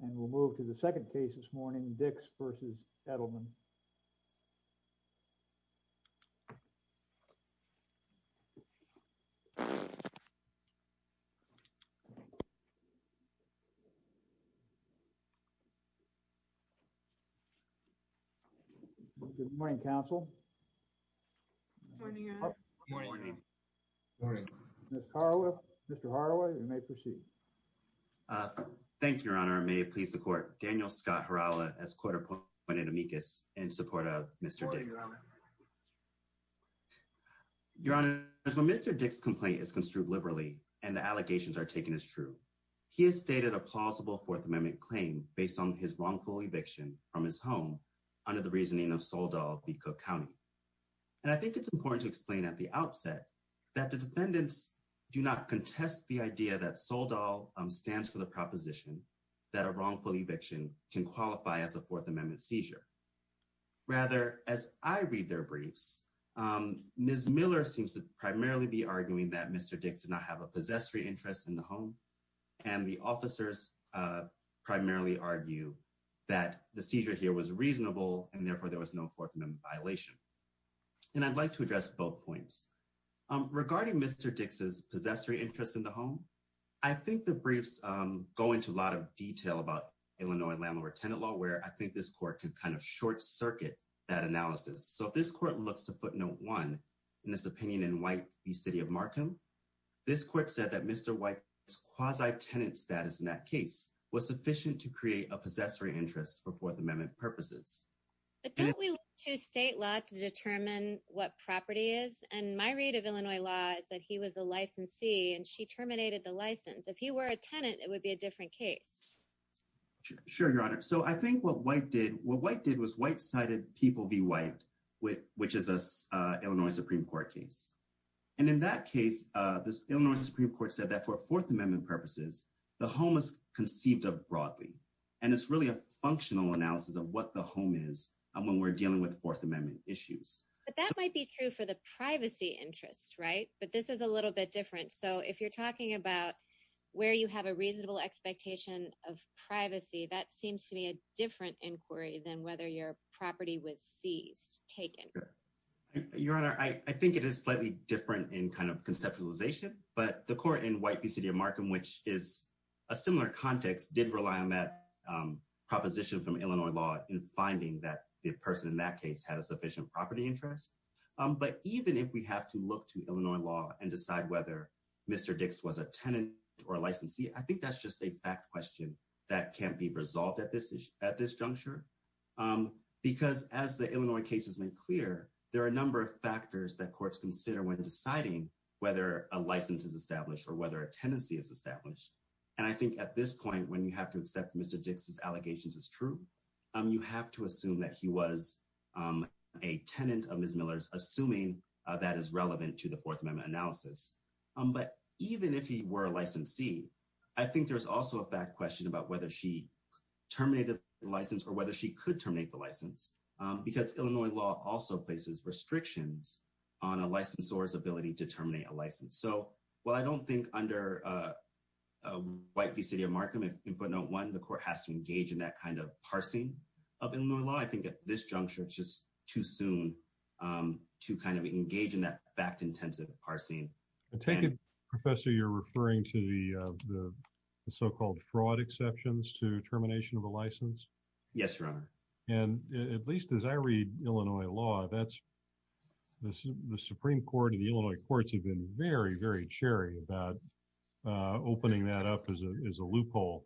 And we'll move to the second case this morning, Dix v. Edelman. Good morning, counsel. Good morning. Good morning. Good morning. Mr. Hardaway, you may proceed. Thank you, Your Honor. May it please the Court, Daniel Scott Herala as court appointed amicus in support of Mr. Dix. Your Honor, Mr. Dix's complaint is construed liberally, and the allegations are taken as true. He has stated a plausible Fourth Amendment claim based on his wrongful eviction from his home under the reasoning of Soledad B. Cook County. And I think it's important to explain at the outset that the defendants do not contest the idea that SOLDAL stands for the proposition that a wrongful eviction can qualify as a Fourth Amendment seizure. Rather, as I read their briefs, Ms. Miller seems to primarily be arguing that Mr. Dix did not have a possessory interest in the home, and the officers primarily argue that the seizure here was reasonable, and therefore, there was no Fourth Amendment violation. And I'd like to address both points. Regarding Mr. Dix's possessory interest in the home, I think the briefs go into a lot of detail about Illinois landlord-tenant law where I think this court can kind of short-circuit that analysis. So, if this court looks to footnote one in this opinion in White v. City of Markham, this court said that Mr. White's quasi-tenant status in that case was sufficient to create a possessory interest for Fourth Amendment purposes. But don't we look to state law to determine what property is? And my read of Illinois law is that he was a licensee, and she terminated the license. If he were a tenant, it would be a different case. Sure, Your Honor. So, I think what White did was White cited People v. White, which is an Illinois Supreme Court case. And in that case, the Illinois Supreme Court said that for Fourth Amendment purposes, the home is conceived of broadly, and it's really a functional analysis of what the home is when we're dealing with Fourth Amendment issues. But that might be true for the privacy interest, right? But this is a little bit different. So, if you're talking about where you have a reasonable expectation of privacy, that seems to be a different inquiry than whether your property was seized, taken. Your Honor, I think it is slightly different in kind of conceptualization, but the court in White v. City of Markham, which is a similar context, did rely on that proposition from Illinois law finding that the person in that case had a sufficient property interest. But even if we have to look to Illinois law and decide whether Mr. Dix was a tenant or a licensee, I think that's just a fact question that can't be resolved at this juncture. Because as the Illinois case has made clear, there are a number of factors that courts consider when deciding whether a license is established or whether a tenancy is established. And I think at this point, when you have to accept Mr. Dix's allegations as true, you have to assume that he was a tenant of Ms. Miller's, assuming that is relevant to the Fourth Amendment analysis. But even if he were a licensee, I think there's also a fact question about whether she terminated the license or whether she could terminate the license. Because Illinois law also places restrictions on a licensor's ability to terminate a license. So, while I don't think under White v. City of Markham in footnote one, the court has to engage in that kind of parsing of Illinois law, I think at this juncture, it's just too soon to kind of engage in that fact-intensive parsing. I take it, Professor, you're referring to the so-called fraud exceptions to termination of a license? Yes, Your Honor. And at least as I read Illinois law, the Supreme Court and the Illinois courts have been very, very cheery about opening that up as a loophole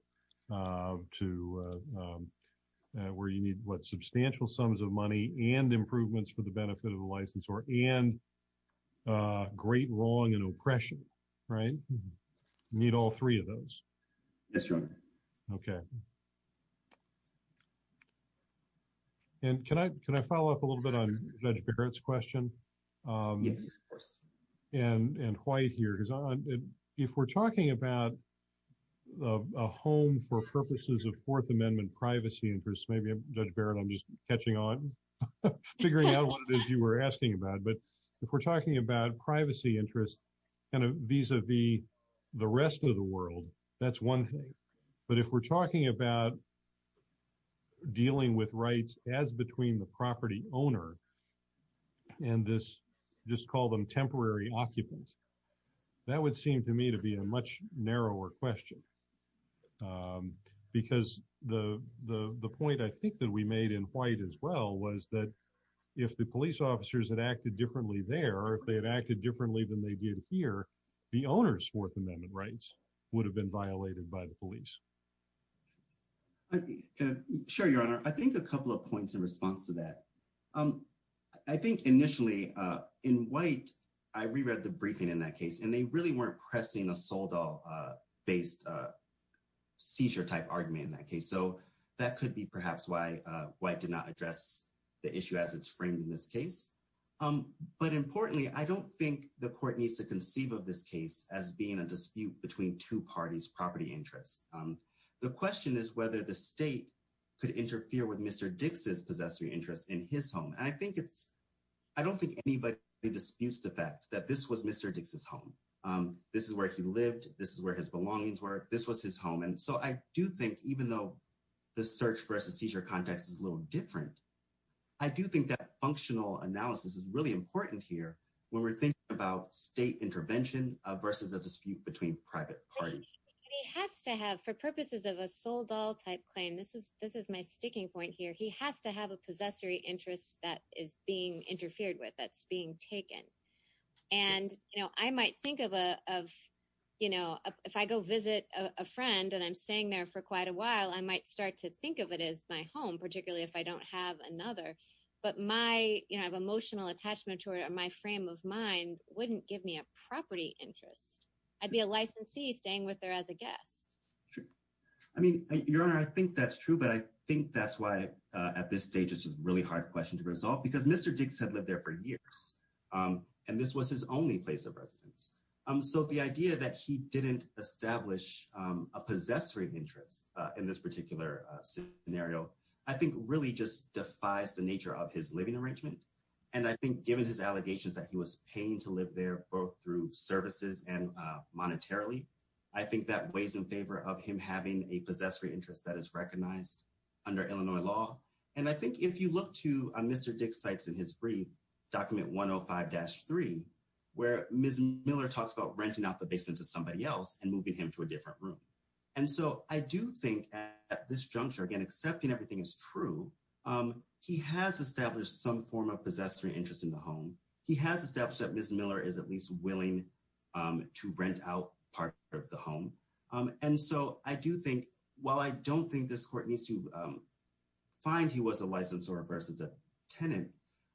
to where you need, what, substantial sums of money and improvements for the benefit of the licensor and great wrong and oppression, right? Need all three of those. Yes, Your Honor. Okay. And can I follow up a little bit on Judge Barrett's question? Yes, of course. And White here, if we're talking about a home for purposes of Fourth Amendment privacy interests, maybe, Judge Barrett, I'm just catching on, figuring out what it is you were asking about. But if we're talking about privacy interests kind of vis-a-vis the rest of the world, that's one thing. But if we're talking about dealing with rights as between the property owner and this, just call them temporary occupant, that would seem to me to be a much narrower question. Because the point I think that we made in White as well was that if the police officers had acted differently there, or if they had acted differently than they did here, the owner's Fourth Amendment rights would have been violated by the police. Sure, Your Honor. I think a couple of points in response to that. I think initially, in White, I reread the briefing in that case, and they really weren't pressing a sold-off-based seizure-type argument in that case. So that could be perhaps why White did not address the issue as it's framed in this case. But importantly, I don't think the court needs to conceive of this case as being a dispute between two parties' property interests. The question is whether the state could interfere with Mr. Dix's possessory interest in his home. And I don't think anybody disputes the fact that this was Mr. Dix's home. This is where he lived. This is where his belongings were. This was his home. And so I do think, even though the search-versus-seizure context is a little different, I do think that functional analysis is really important here when we're thinking about state intervention versus a dispute between private parties. And he has to have, for purposes of a sold-off-type claim, this is my sticking point here. He has to have a possessory interest that is being interfered with, that's being taken. And I might think of, if I go visit a friend and I'm staying there for quite a while, I might start to think of it as my home, particularly if I don't have another. But my emotional attachment to it or my frame of mind wouldn't give me a property interest. I'd be a licensee staying with her as a guest. Sure. I mean, Your Honor, I think that's true, but I think that's why, at this stage, it's a really hard question to resolve, because Mr. Dix had lived there for years. And this was his only place of residence. So the idea that he didn't establish a possessory interest in this particular scenario, I think, really just defies the nature of his living arrangement. And I think, given his allegations that he was paying to live there, both through of him having a possessory interest that is recognized under Illinois law. And I think if you look to Mr. Dix cites in his brief, document 105-3, where Ms. Miller talks about renting out the basement to somebody else and moving him to a different room. And so, I do think, at this juncture, again, accepting everything is true, he has established some form of possessory interest in the home. He has established that Ms. Miller is at least willing to rent out part of the home. And so, I do think, while I don't think this court needs to find he was a licensor versus a tenant,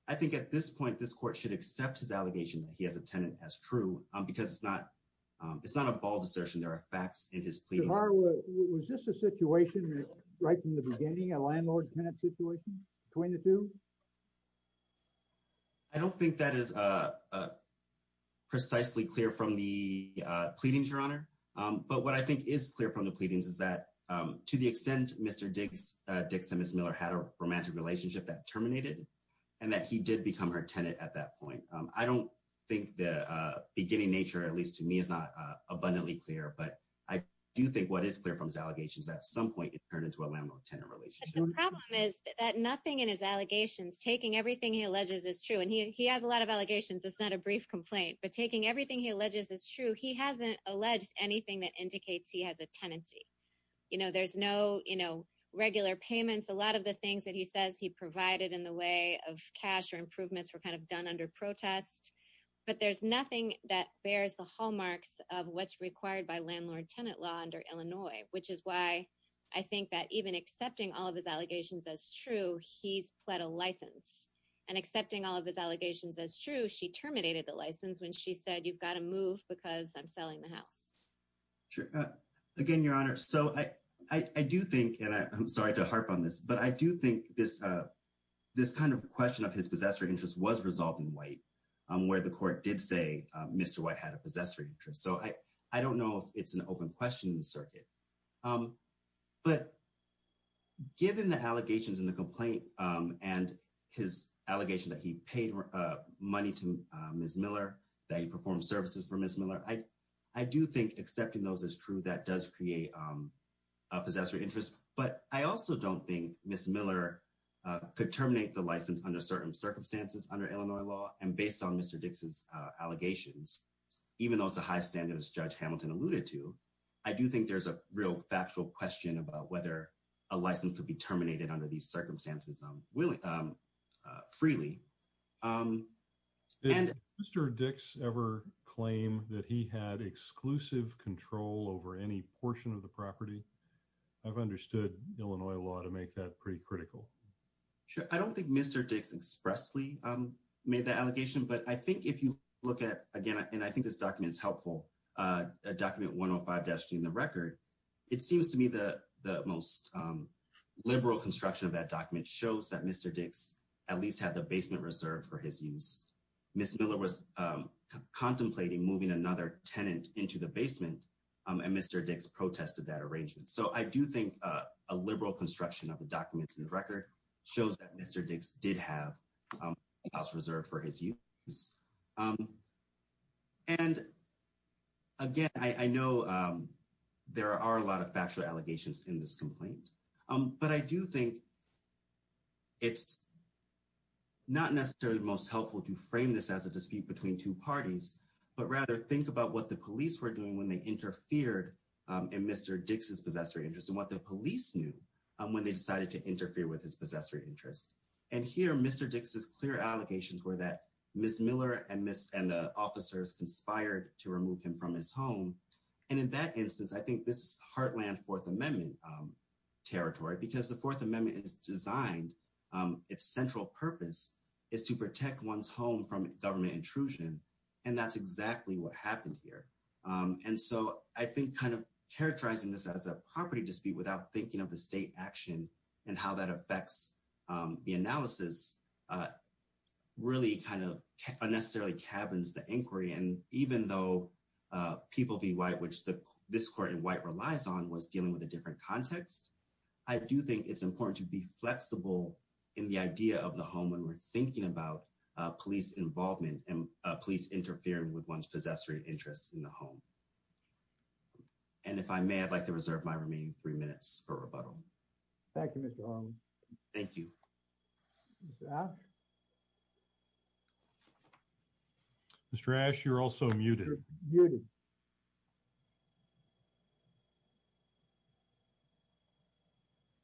I think, at this point, this court should accept his allegation that he has a tenant as true, because it's not a ball desertion. There are facts in his pleadings. Your Honor, was this a situation right from the beginning, a landlord-tenant situation between the two? I don't think that is precisely clear from the pleadings, Your Honor. But what I think is clear from the pleadings is that, to the extent Mr. Dix and Ms. Miller had a romantic relationship that terminated, and that he did become her tenant at that point. I don't think the beginning nature, at least to me, is not abundantly clear. But I do think what is clear from his allegations that at some point, it turned into a landlord-tenant relationship. The problem is that nothing in his allegations, taking everything he alleges is true. And he has a lot of allegations. It's not a brief complaint. But taking everything he alleges is true. He hasn't alleged anything that indicates he has a tenancy. There's no regular payments. A lot of the things that he says he provided in the way of cash or improvements were kind of done under protest. But there's nothing that bears the hallmarks of what's required by landlord-tenant under Illinois, which is why I think that even accepting all of his allegations as true, he's pled a license. And accepting all of his allegations as true, she terminated the license when she said, you've got to move because I'm selling the house. Sure. Again, Your Honor, so I do think, and I'm sorry to harp on this, but I do think this kind of question of his possessory interest was resolved in White, where the court did say Mr. White had a possessory interest. So I don't know if it's an open question in the circuit. But given the allegations in the complaint and his allegations that he paid money to Ms. Miller, that he performed services for Ms. Miller, I do think accepting those as true, that does create a possessory interest. But I also don't think Ms. Miller could terminate the license under circumstances under Illinois law and based on Mr. Dix's allegations, even though it's a high standard, as Judge Hamilton alluded to, I do think there's a real factual question about whether a license could be terminated under these circumstances freely. Did Mr. Dix ever claim that he had exclusive control over any portion of the property? I've understood Illinois law to make that pretty critical. Sure. I don't think Mr. Dix expressly made that allegation. But I think if you look at, again, and I think this document is helpful, document 105-D in the record, it seems to me the most liberal construction of that document shows that Mr. Dix at least had the basement reserved for his use. Ms. Miller was contemplating moving another tenant into the basement, and Mr. Dix protested that arrangement. So I do think a liberal construction of the documents in the record shows that Mr. Dix did have a house reserved for his use. And again, I know there are a lot of factual allegations in this complaint. But I do think it's not necessarily most helpful to frame this as a dispute between two parties, but rather think about what the police were doing when they interfered in Mr. Dix's possessory interest and what the police knew when they decided to interfere with his possessory interest. And here, Mr. Dix's clear allegations were that Ms. Miller and the officers conspired to remove him from his home. And in that instance, I think this is heartland Fourth Amendment territory, because the Fourth Amendment is designed, its central purpose is to protect one's home from government intrusion, and that's exactly what happened here. And so I think kind of characterizing this as a property dispute without thinking of the state action and how that affects the analysis really kind of unnecessarily cabins the inquiry. And even though People v. White, which this court in white relies on, was dealing with a different context, I do think it's important to be flexible in the idea of the home when we're thinking about police involvement and police interfering with one's possessory interest in the home. And if I may, I'd like to reserve my remaining three minutes for rebuttal. Thank you. Thank you. Mr. Ash, you're also muted.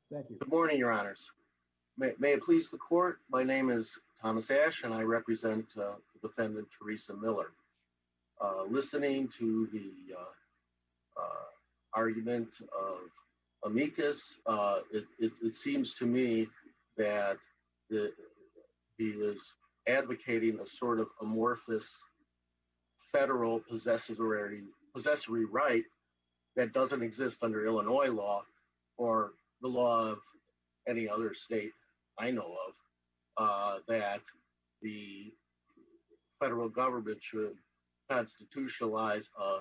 Thank you. Good morning, your honors. May it please the court. My name is Thomas Ash, and I represent defendant Theresa Miller. Listening to the argument of amicus, it seems to me that he was advocating a sort of amorphous federal possessory right that doesn't exist under Illinois law or the law of any other state I know of that the federal government should constitutionalize a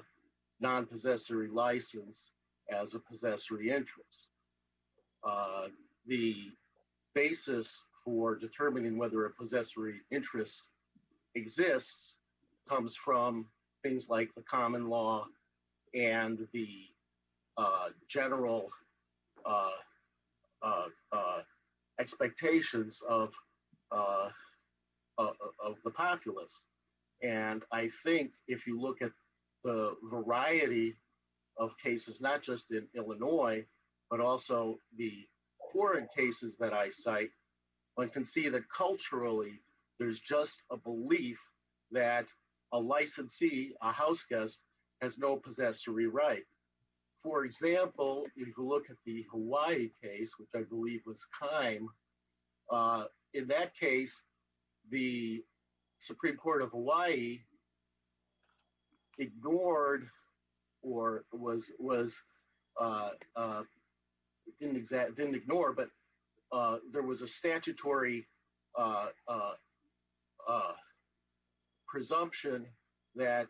non-possessory license as a possessory interest. The basis for determining whether a possessory interest exists comes from things like the common law and the general expectations of the populace. And I think if you look at the variety of cases, not just in Illinois, but also the foreign cases that I cite, one can see that culturally there's just a belief that a licensee, a house guest, has no possessory right. For example, if you look at the Hawaii case, which I believe was Keim, in that case the Supreme Court of Hawaii ignored or was didn't ignore, but there was a statutory presumption that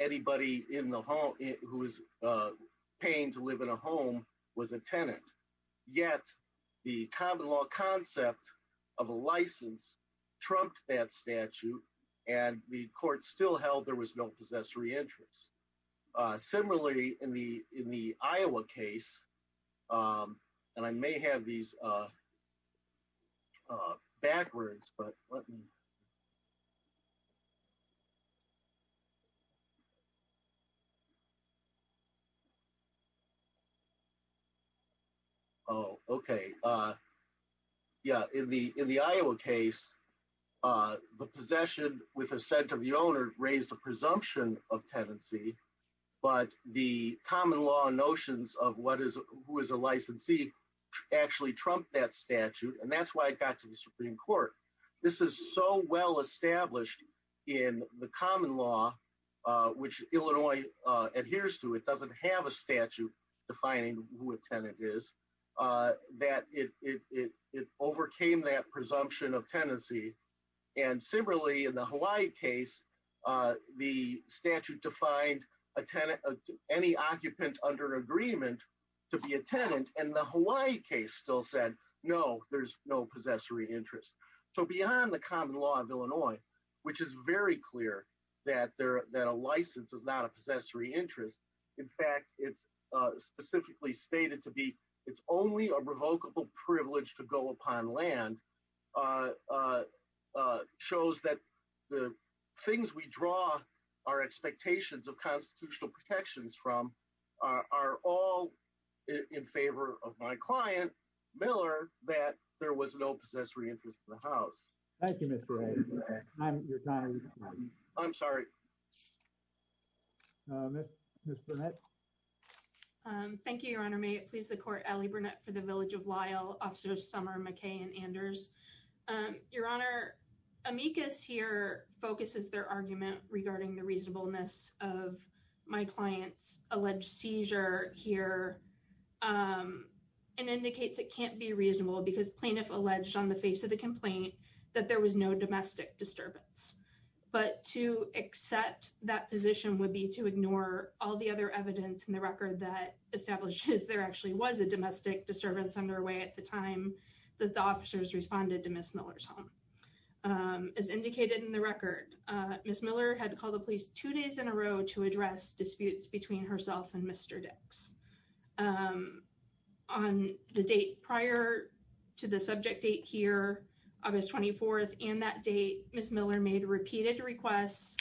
anybody in the home who was paying to live in a home was a tenant. Yet the common law concept of a license trumped that statute, and the court still held there was no possessory interest. Similarly, in the Iowa case, and I may have these backwards, but let me... Oh, okay. Yeah, in the Iowa case, the possession with assent of the owner raised a presumption of tenancy, but the common law notions of what is who is a licensee actually trumped that statute, and that's why it got to the Supreme Court. This is so well established in the common law which Illinois adheres to. It doesn't have a statute defining who a tenant is. It overcame that presumption of tenancy, and similarly in the Hawaii case, the statute defined any occupant under agreement to be a tenant, and the Hawaii case still said no, there's no possessory interest. So beyond the common law of Illinois, which is very clear that a license is not a possessory interest, in fact, it's specifically stated to be it's only a revocable privilege to go upon land, shows that the things we draw our expectations of constitutional protections from are all in favor of my client, Miller, that there was no possessory interest in the house. Thank you, Mr. Hayes. I'm sorry. Thank you, Your Honor. May it please the Court, Allie Burnett for the Village of Lyle, Officers Summer, McKay, and Anders. Your Honor, amicus here focuses their argument regarding the reasonableness of my client's alleged seizure here and indicates it can't be reasonable because plaintiff alleged on the face of the complaint that there was no domestic disturbance, but to accept that position would be to ignore all the other evidence in the record that establishes there actually was a domestic disturbance underway at the time that the officers responded to Ms. Miller. Ms. Miller had called the police two days in a row to address disputes between herself and Mr. Dix. On the date prior to the subject date here, August 24th, and that date, Ms. Miller made repeated requests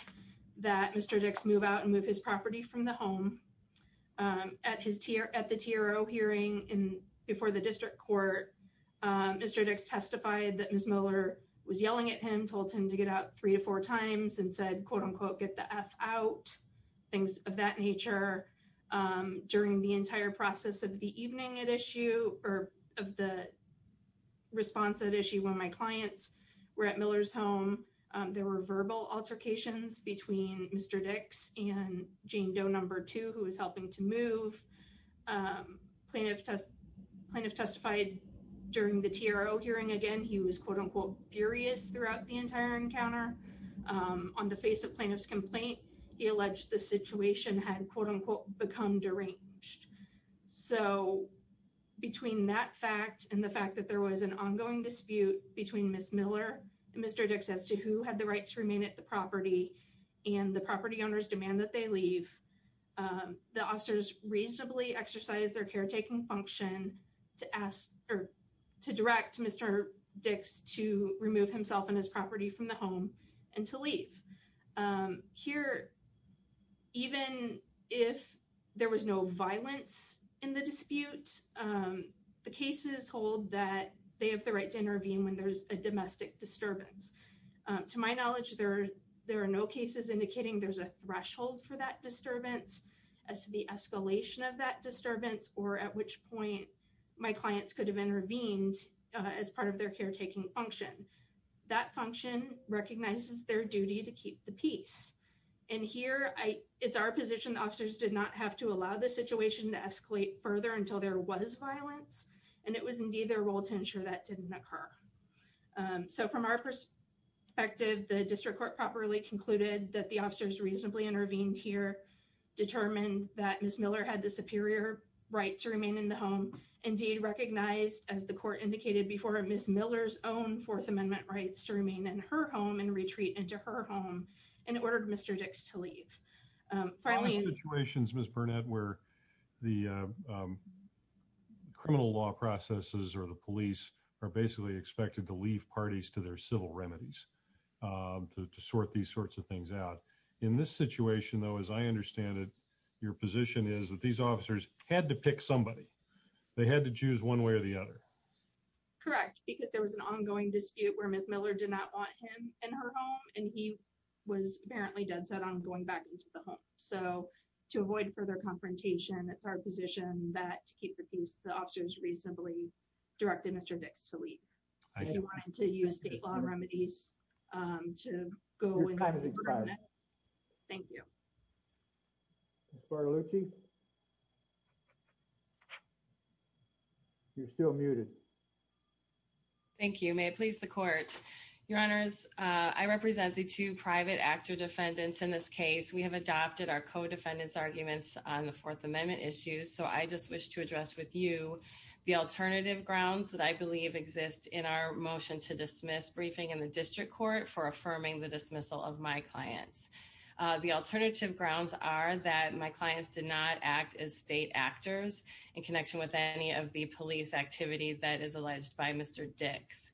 that Mr. Dix move out and move his property from the home. At the TRO hearing before the District Court, Mr. Dix testified that Ms. Miller was yelling at him, told him to get out three to four times, and said, quote-unquote, get the F out, things of that nature. During the entire process of the evening at issue, or of the response at issue when my clients were at Miller's home, there were verbal altercations between Mr. Dix and Jane Doe No. 2, who was helping to move. Plaintiff testified during the TRO hearing again. He was, quote-unquote, furious throughout the entire encounter. On the face of plaintiff's complaint, he alleged the situation had, quote-unquote, become deranged. So between that fact and the fact that there was an ongoing dispute between Ms. Miller and Mr. Dix as to who had the right to remain at the property and the property owner's demand that they leave, the officers reasonably exercised their caretaking function to direct Mr. Dix to remove himself and his property from the home and to leave. Here, even if there was no violence in the dispute, the cases hold that they have the right to intervene when there's a domestic disturbance. To my knowledge, there are no cases indicating there's a threshold for that disturbance as to the escalation of that disturbance or at which point my clients could have intervened as part of their caretaking function. That function recognizes their duty to keep the peace. And here, it's our position the officers did not have to allow the situation to escalate further until there was violence, and it was indeed their role to ensure that didn't occur. So from our perspective, the district court properly concluded that the indeed recognized as the court indicated before Ms. Miller's own Fourth Amendment rights to remain in her home and retreat into her home and ordered Mr. Dix to leave. Finally, in situations Ms. Burnett where the criminal law processes or the police are basically expected to leave parties to their civil remedies to sort these sorts of things out. In this situation though, as I understand it, your position is that these officers had to pick somebody. They had to choose one way or the other. Correct, because there was an ongoing dispute where Ms. Miller did not want him in her home, and he was apparently dead set on going back into the home. So to avoid further confrontation, it's our position that to keep the peace, the officers reasonably directed Mr. Dix to leave. If you wanted to use state law remedies to go with that. Thank you. Ms. Bartolucci, you're still muted. Thank you. May it please the court. Your honors, I represent the two private actor defendants in this case. We have adopted our co-defendants arguments on the Fourth Amendment issues. So I just wish to address with you the alternative grounds that I believe exist in our motion to dismiss briefing in the district court for affirming the dismissal of my clients. The alternative grounds are that my clients did not act as state actors in connection with any of the police activity that is alleged by Mr. Dix.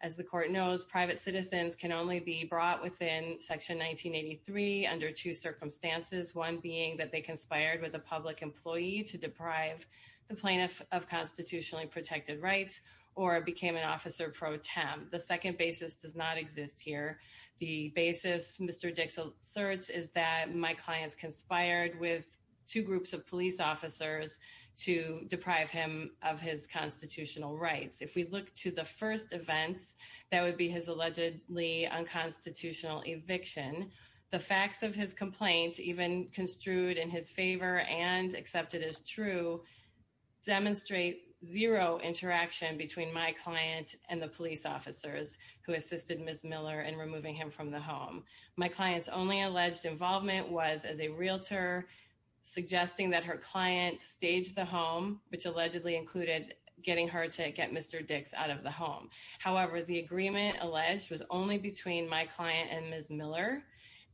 As the court knows, private citizens can only be brought within section 1983 under two circumstances. One being that they conspired with a public employee to deprive the plaintiff of constitutionally protected rights, or became an officer pro tem. The second basis does not exist here. The basis Mr. Dix asserts is that my clients conspired with two groups of police officers to deprive him of his constitutional rights. If we look to the first events, that would be his allegedly unconstitutional eviction. The facts of his complaint, even construed in his favor and accepted as true, demonstrate zero interaction between my client and the police officers who assisted Ms. Miller in removing him from the home. My client's only alleged involvement was as a realtor, suggesting that her client staged the home, which allegedly included getting her to get Mr. Dix out of the home. However, the agreement alleged was only between my client and Ms. Miller.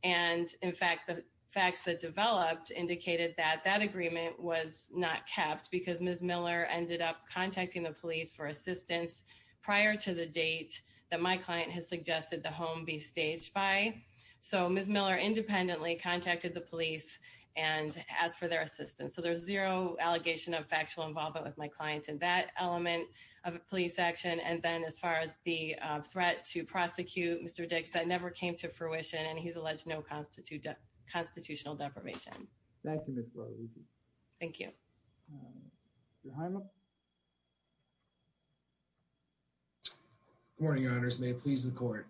And in fact, the facts that developed indicated that that agreement was not kept because Ms. Miller ended up contacting the police for assistance prior to the date that my client has suggested the home be staged by. So Ms. Miller independently contacted the police and asked for their assistance. So there's zero allegation of factual involvement with my client in that element of a police action. And then as far as the threat to prosecute Mr. Dix, that never came to fruition and he's alleged no constitutional deprivation. Thank you. Good morning, Your Honors. May it please the court.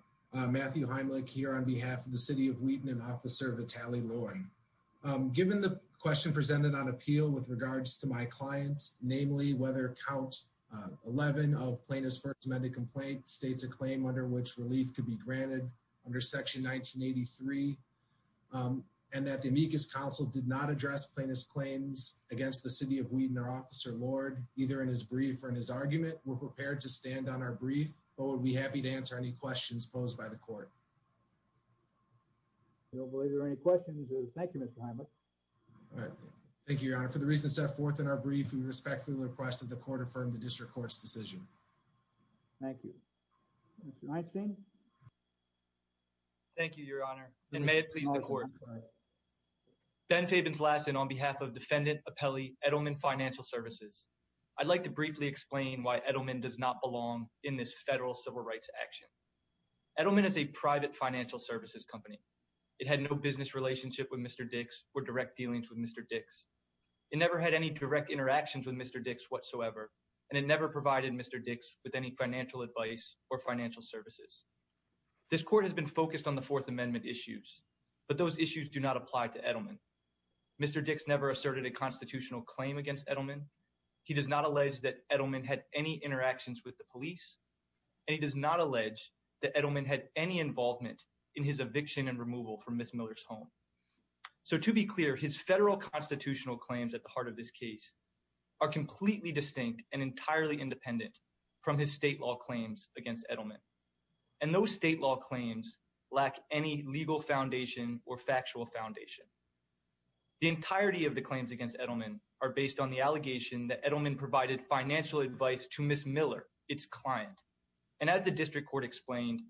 Matthew Heimlich here on behalf of the City of Wheaton and Officer Vitaly Loren. Given the question presented on appeal with regards to my clients, namely whether count 11 of plaintiff's first amended complaint states a claim under which relief could be granted under section 1983 and that the amicus council did not address plaintiff's claims against the City of Wheaton or Officer Lord, either in his brief or in his argument, we're prepared to stand on our brief, but would be happy to answer any questions posed by the court. I don't believe there are any questions. Thank you, Mr. Heimlich. All right. Thank you, Your Honor. For the reasons set forth in our brief, we respectfully request that the court affirm the district court's decision. Thank you. Mr. Einstein. Thank you, Your Honor. And may it please the court. Ben Fabianslasson on behalf of Defendant Appellee Edelman Financial Services. I'd like to briefly explain why Edelman does not belong in this federal civil rights action. Edelman is a private financial services company. It had no business relationship with Mr. Dix or direct dealings with Mr. Dix. It never had any direct interactions with Mr. Dix whatsoever. And it never provided Mr. Dix with any financial advice or financial services. This court has been focused on the fourth amendment issues, but those issues do not apply to Edelman. Mr. Dix never asserted a constitutional claim against Edelman. He does not allege that Edelman had any interactions with the police. And he does not allege that Edelman had any involvement in his eviction and removal from Ms. Miller's home. So to be clear, his federal constitutional claims at the heart of this case are completely distinct and entirely independent from his state law claims against Edelman. And those state law claims lack any legal foundation or factual foundation. The entirety of the claims against Edelman are based on the allegation that Edelman provided financial advice to Ms. Miller, its client. And as the district court explained,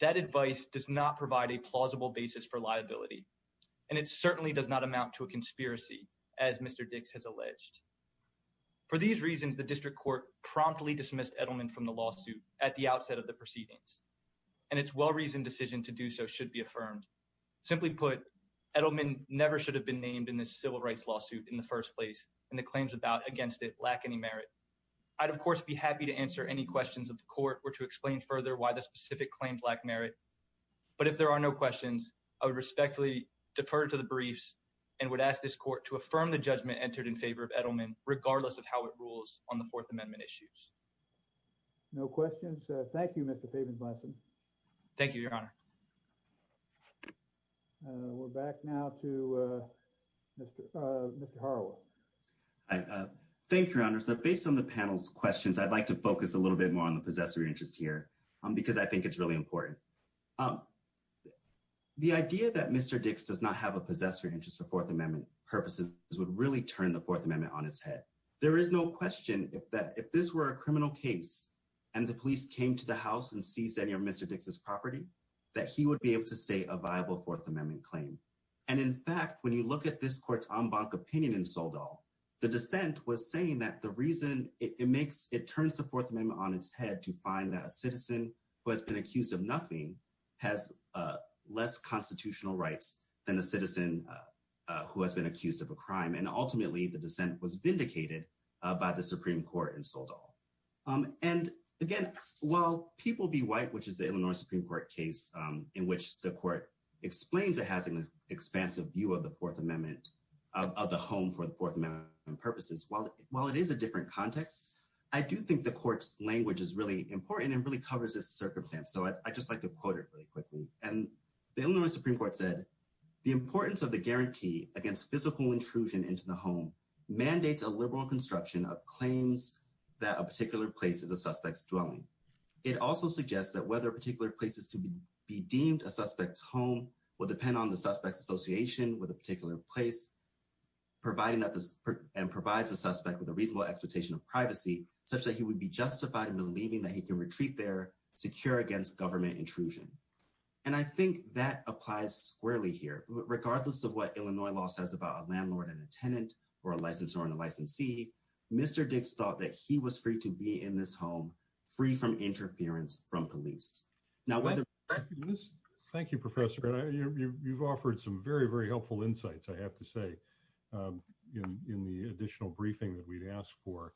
that advice does not provide a plausible basis for liability. And it certainly does not amount to a conspiracy, as Mr. Dix has alleged. For these reasons, the district court promptly dismissed Edelman from the lawsuit at the outset of the proceedings. And it's well-reasoned decision to do so should be affirmed. Simply put, Edelman never should have been named in this civil rights lawsuit in the first place. And the claims about against it lack any merit. I'd, of course, be happy to answer any questions of the court or to explain further why the specific claims lack merit. But if there are no questions, I would respectfully defer to the briefs and would ask this court to affirm the judgment entered in favor of Edelman, regardless of how it rules on the Fourth Amendment issues. No questions. Thank you, Mr. Pavin-Blassen. Thank you, Your Honor. We're back now to Mr. Harwell. Thank you, Your Honor. So based on the panel's questions, I'd like to focus a little bit more on the possessory interest here because I think it's really important. The idea that Mr. Dix does not have a possessory interest for Fourth Amendment purposes would really turn the Fourth Amendment on its head. There is no question that if this were a criminal case and the police came to the house and seized any of Mr. Dix's property, he would be able to state a viable Fourth Amendment claim. And in fact, when you look at this court's en banc opinion in Soledad, the dissent was saying that the reason it makes, it turns the Fourth Amendment on its head to find that a citizen who has been accused of nothing has less constitutional rights than a citizen who has been accused of a crime. And ultimately, the dissent was vindicated by the Supreme Court in Soledad. And again, while people be white, which is the Illinois Supreme Court case, in which the court explains it has an expansive view of the Fourth Amendment, of the home for the Fourth Amendment purposes, while it is a different context, I do think the court's language is really important and really covers this circumstance. So I'd just like to quote it really quickly. And the Illinois Supreme Court said, the importance of the guarantee against physical intrusion into the home mandates a liberal construction of claims that a particular place is a suspect's dwelling. It also suggests that whether a particular place is to be deemed a suspect's home will depend on the suspect's association with a particular place and provides a suspect with a reasonable expectation of privacy such that he would be justified in believing that he can retreat there secure against government intrusion. And I think that applies squarely here. Regardless of what Illinois law says about a landlord and a tenant or a licensor and a licensee, Mr. Dix thought that he was free to be in this home, free from interference from police. Now whether... Thank you, Professor. You've offered some very, very helpful insights, I have to say, in the additional briefing that we'd asked for.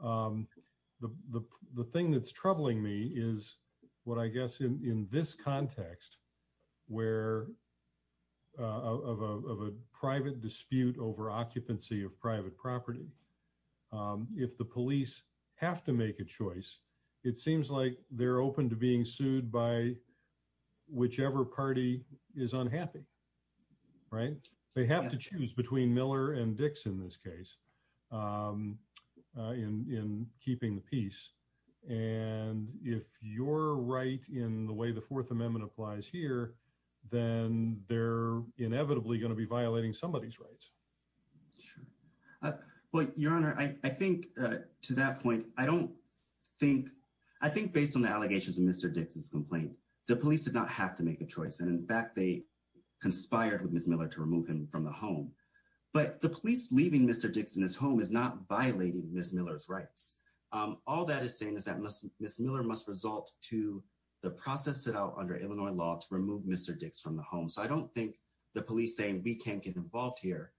The thing that's troubling me is what I guess in this context where of a private dispute over occupancy of private property, if the police have to make a choice, it seems like they're open to being sued by whichever party is unhappy, right? They have to choose between Miller and Dix in this case in keeping the peace. And if you're right in the way the Fourth Amendment applies here, then they're inevitably going to be violating somebody's rights. Sure. Well, Your Honor, I think to that point, I don't think... I think based on the allegations of Mr. Dix's complaint, the police did not have to make a choice. And in fact, they conspired with Mr. Dix in his home is not violating Ms. Miller's rights. All that is saying is that Ms. Miller must result to the process set out under Illinois law to remove Mr. Dix from the home. So I don't think the police saying we can't get involved here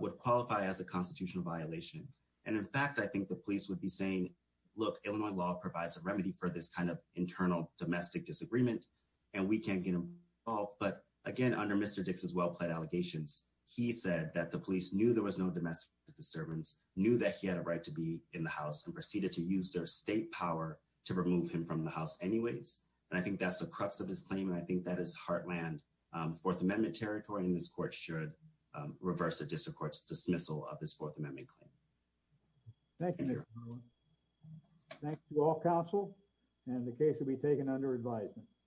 would qualify as a constitutional violation. And in fact, I think the police would be saying, look, Illinois law provides a remedy for this kind of internal domestic disagreement, and we can't get involved. But again, under Mr. Dix's well-pled allegations, he said that the police knew there was no domestic disturbance, knew that he had a right to be in the house and proceeded to use their state power to remove him from the house anyways. And I think that's the crux of his claim. And I think that is heartland Fourth Amendment territory. And this court should reverse the district court's dismissal of this Fourth Amendment claim. Thank you, Mr. Miller. Thanks to all counsel. And the case will be taken under advisement.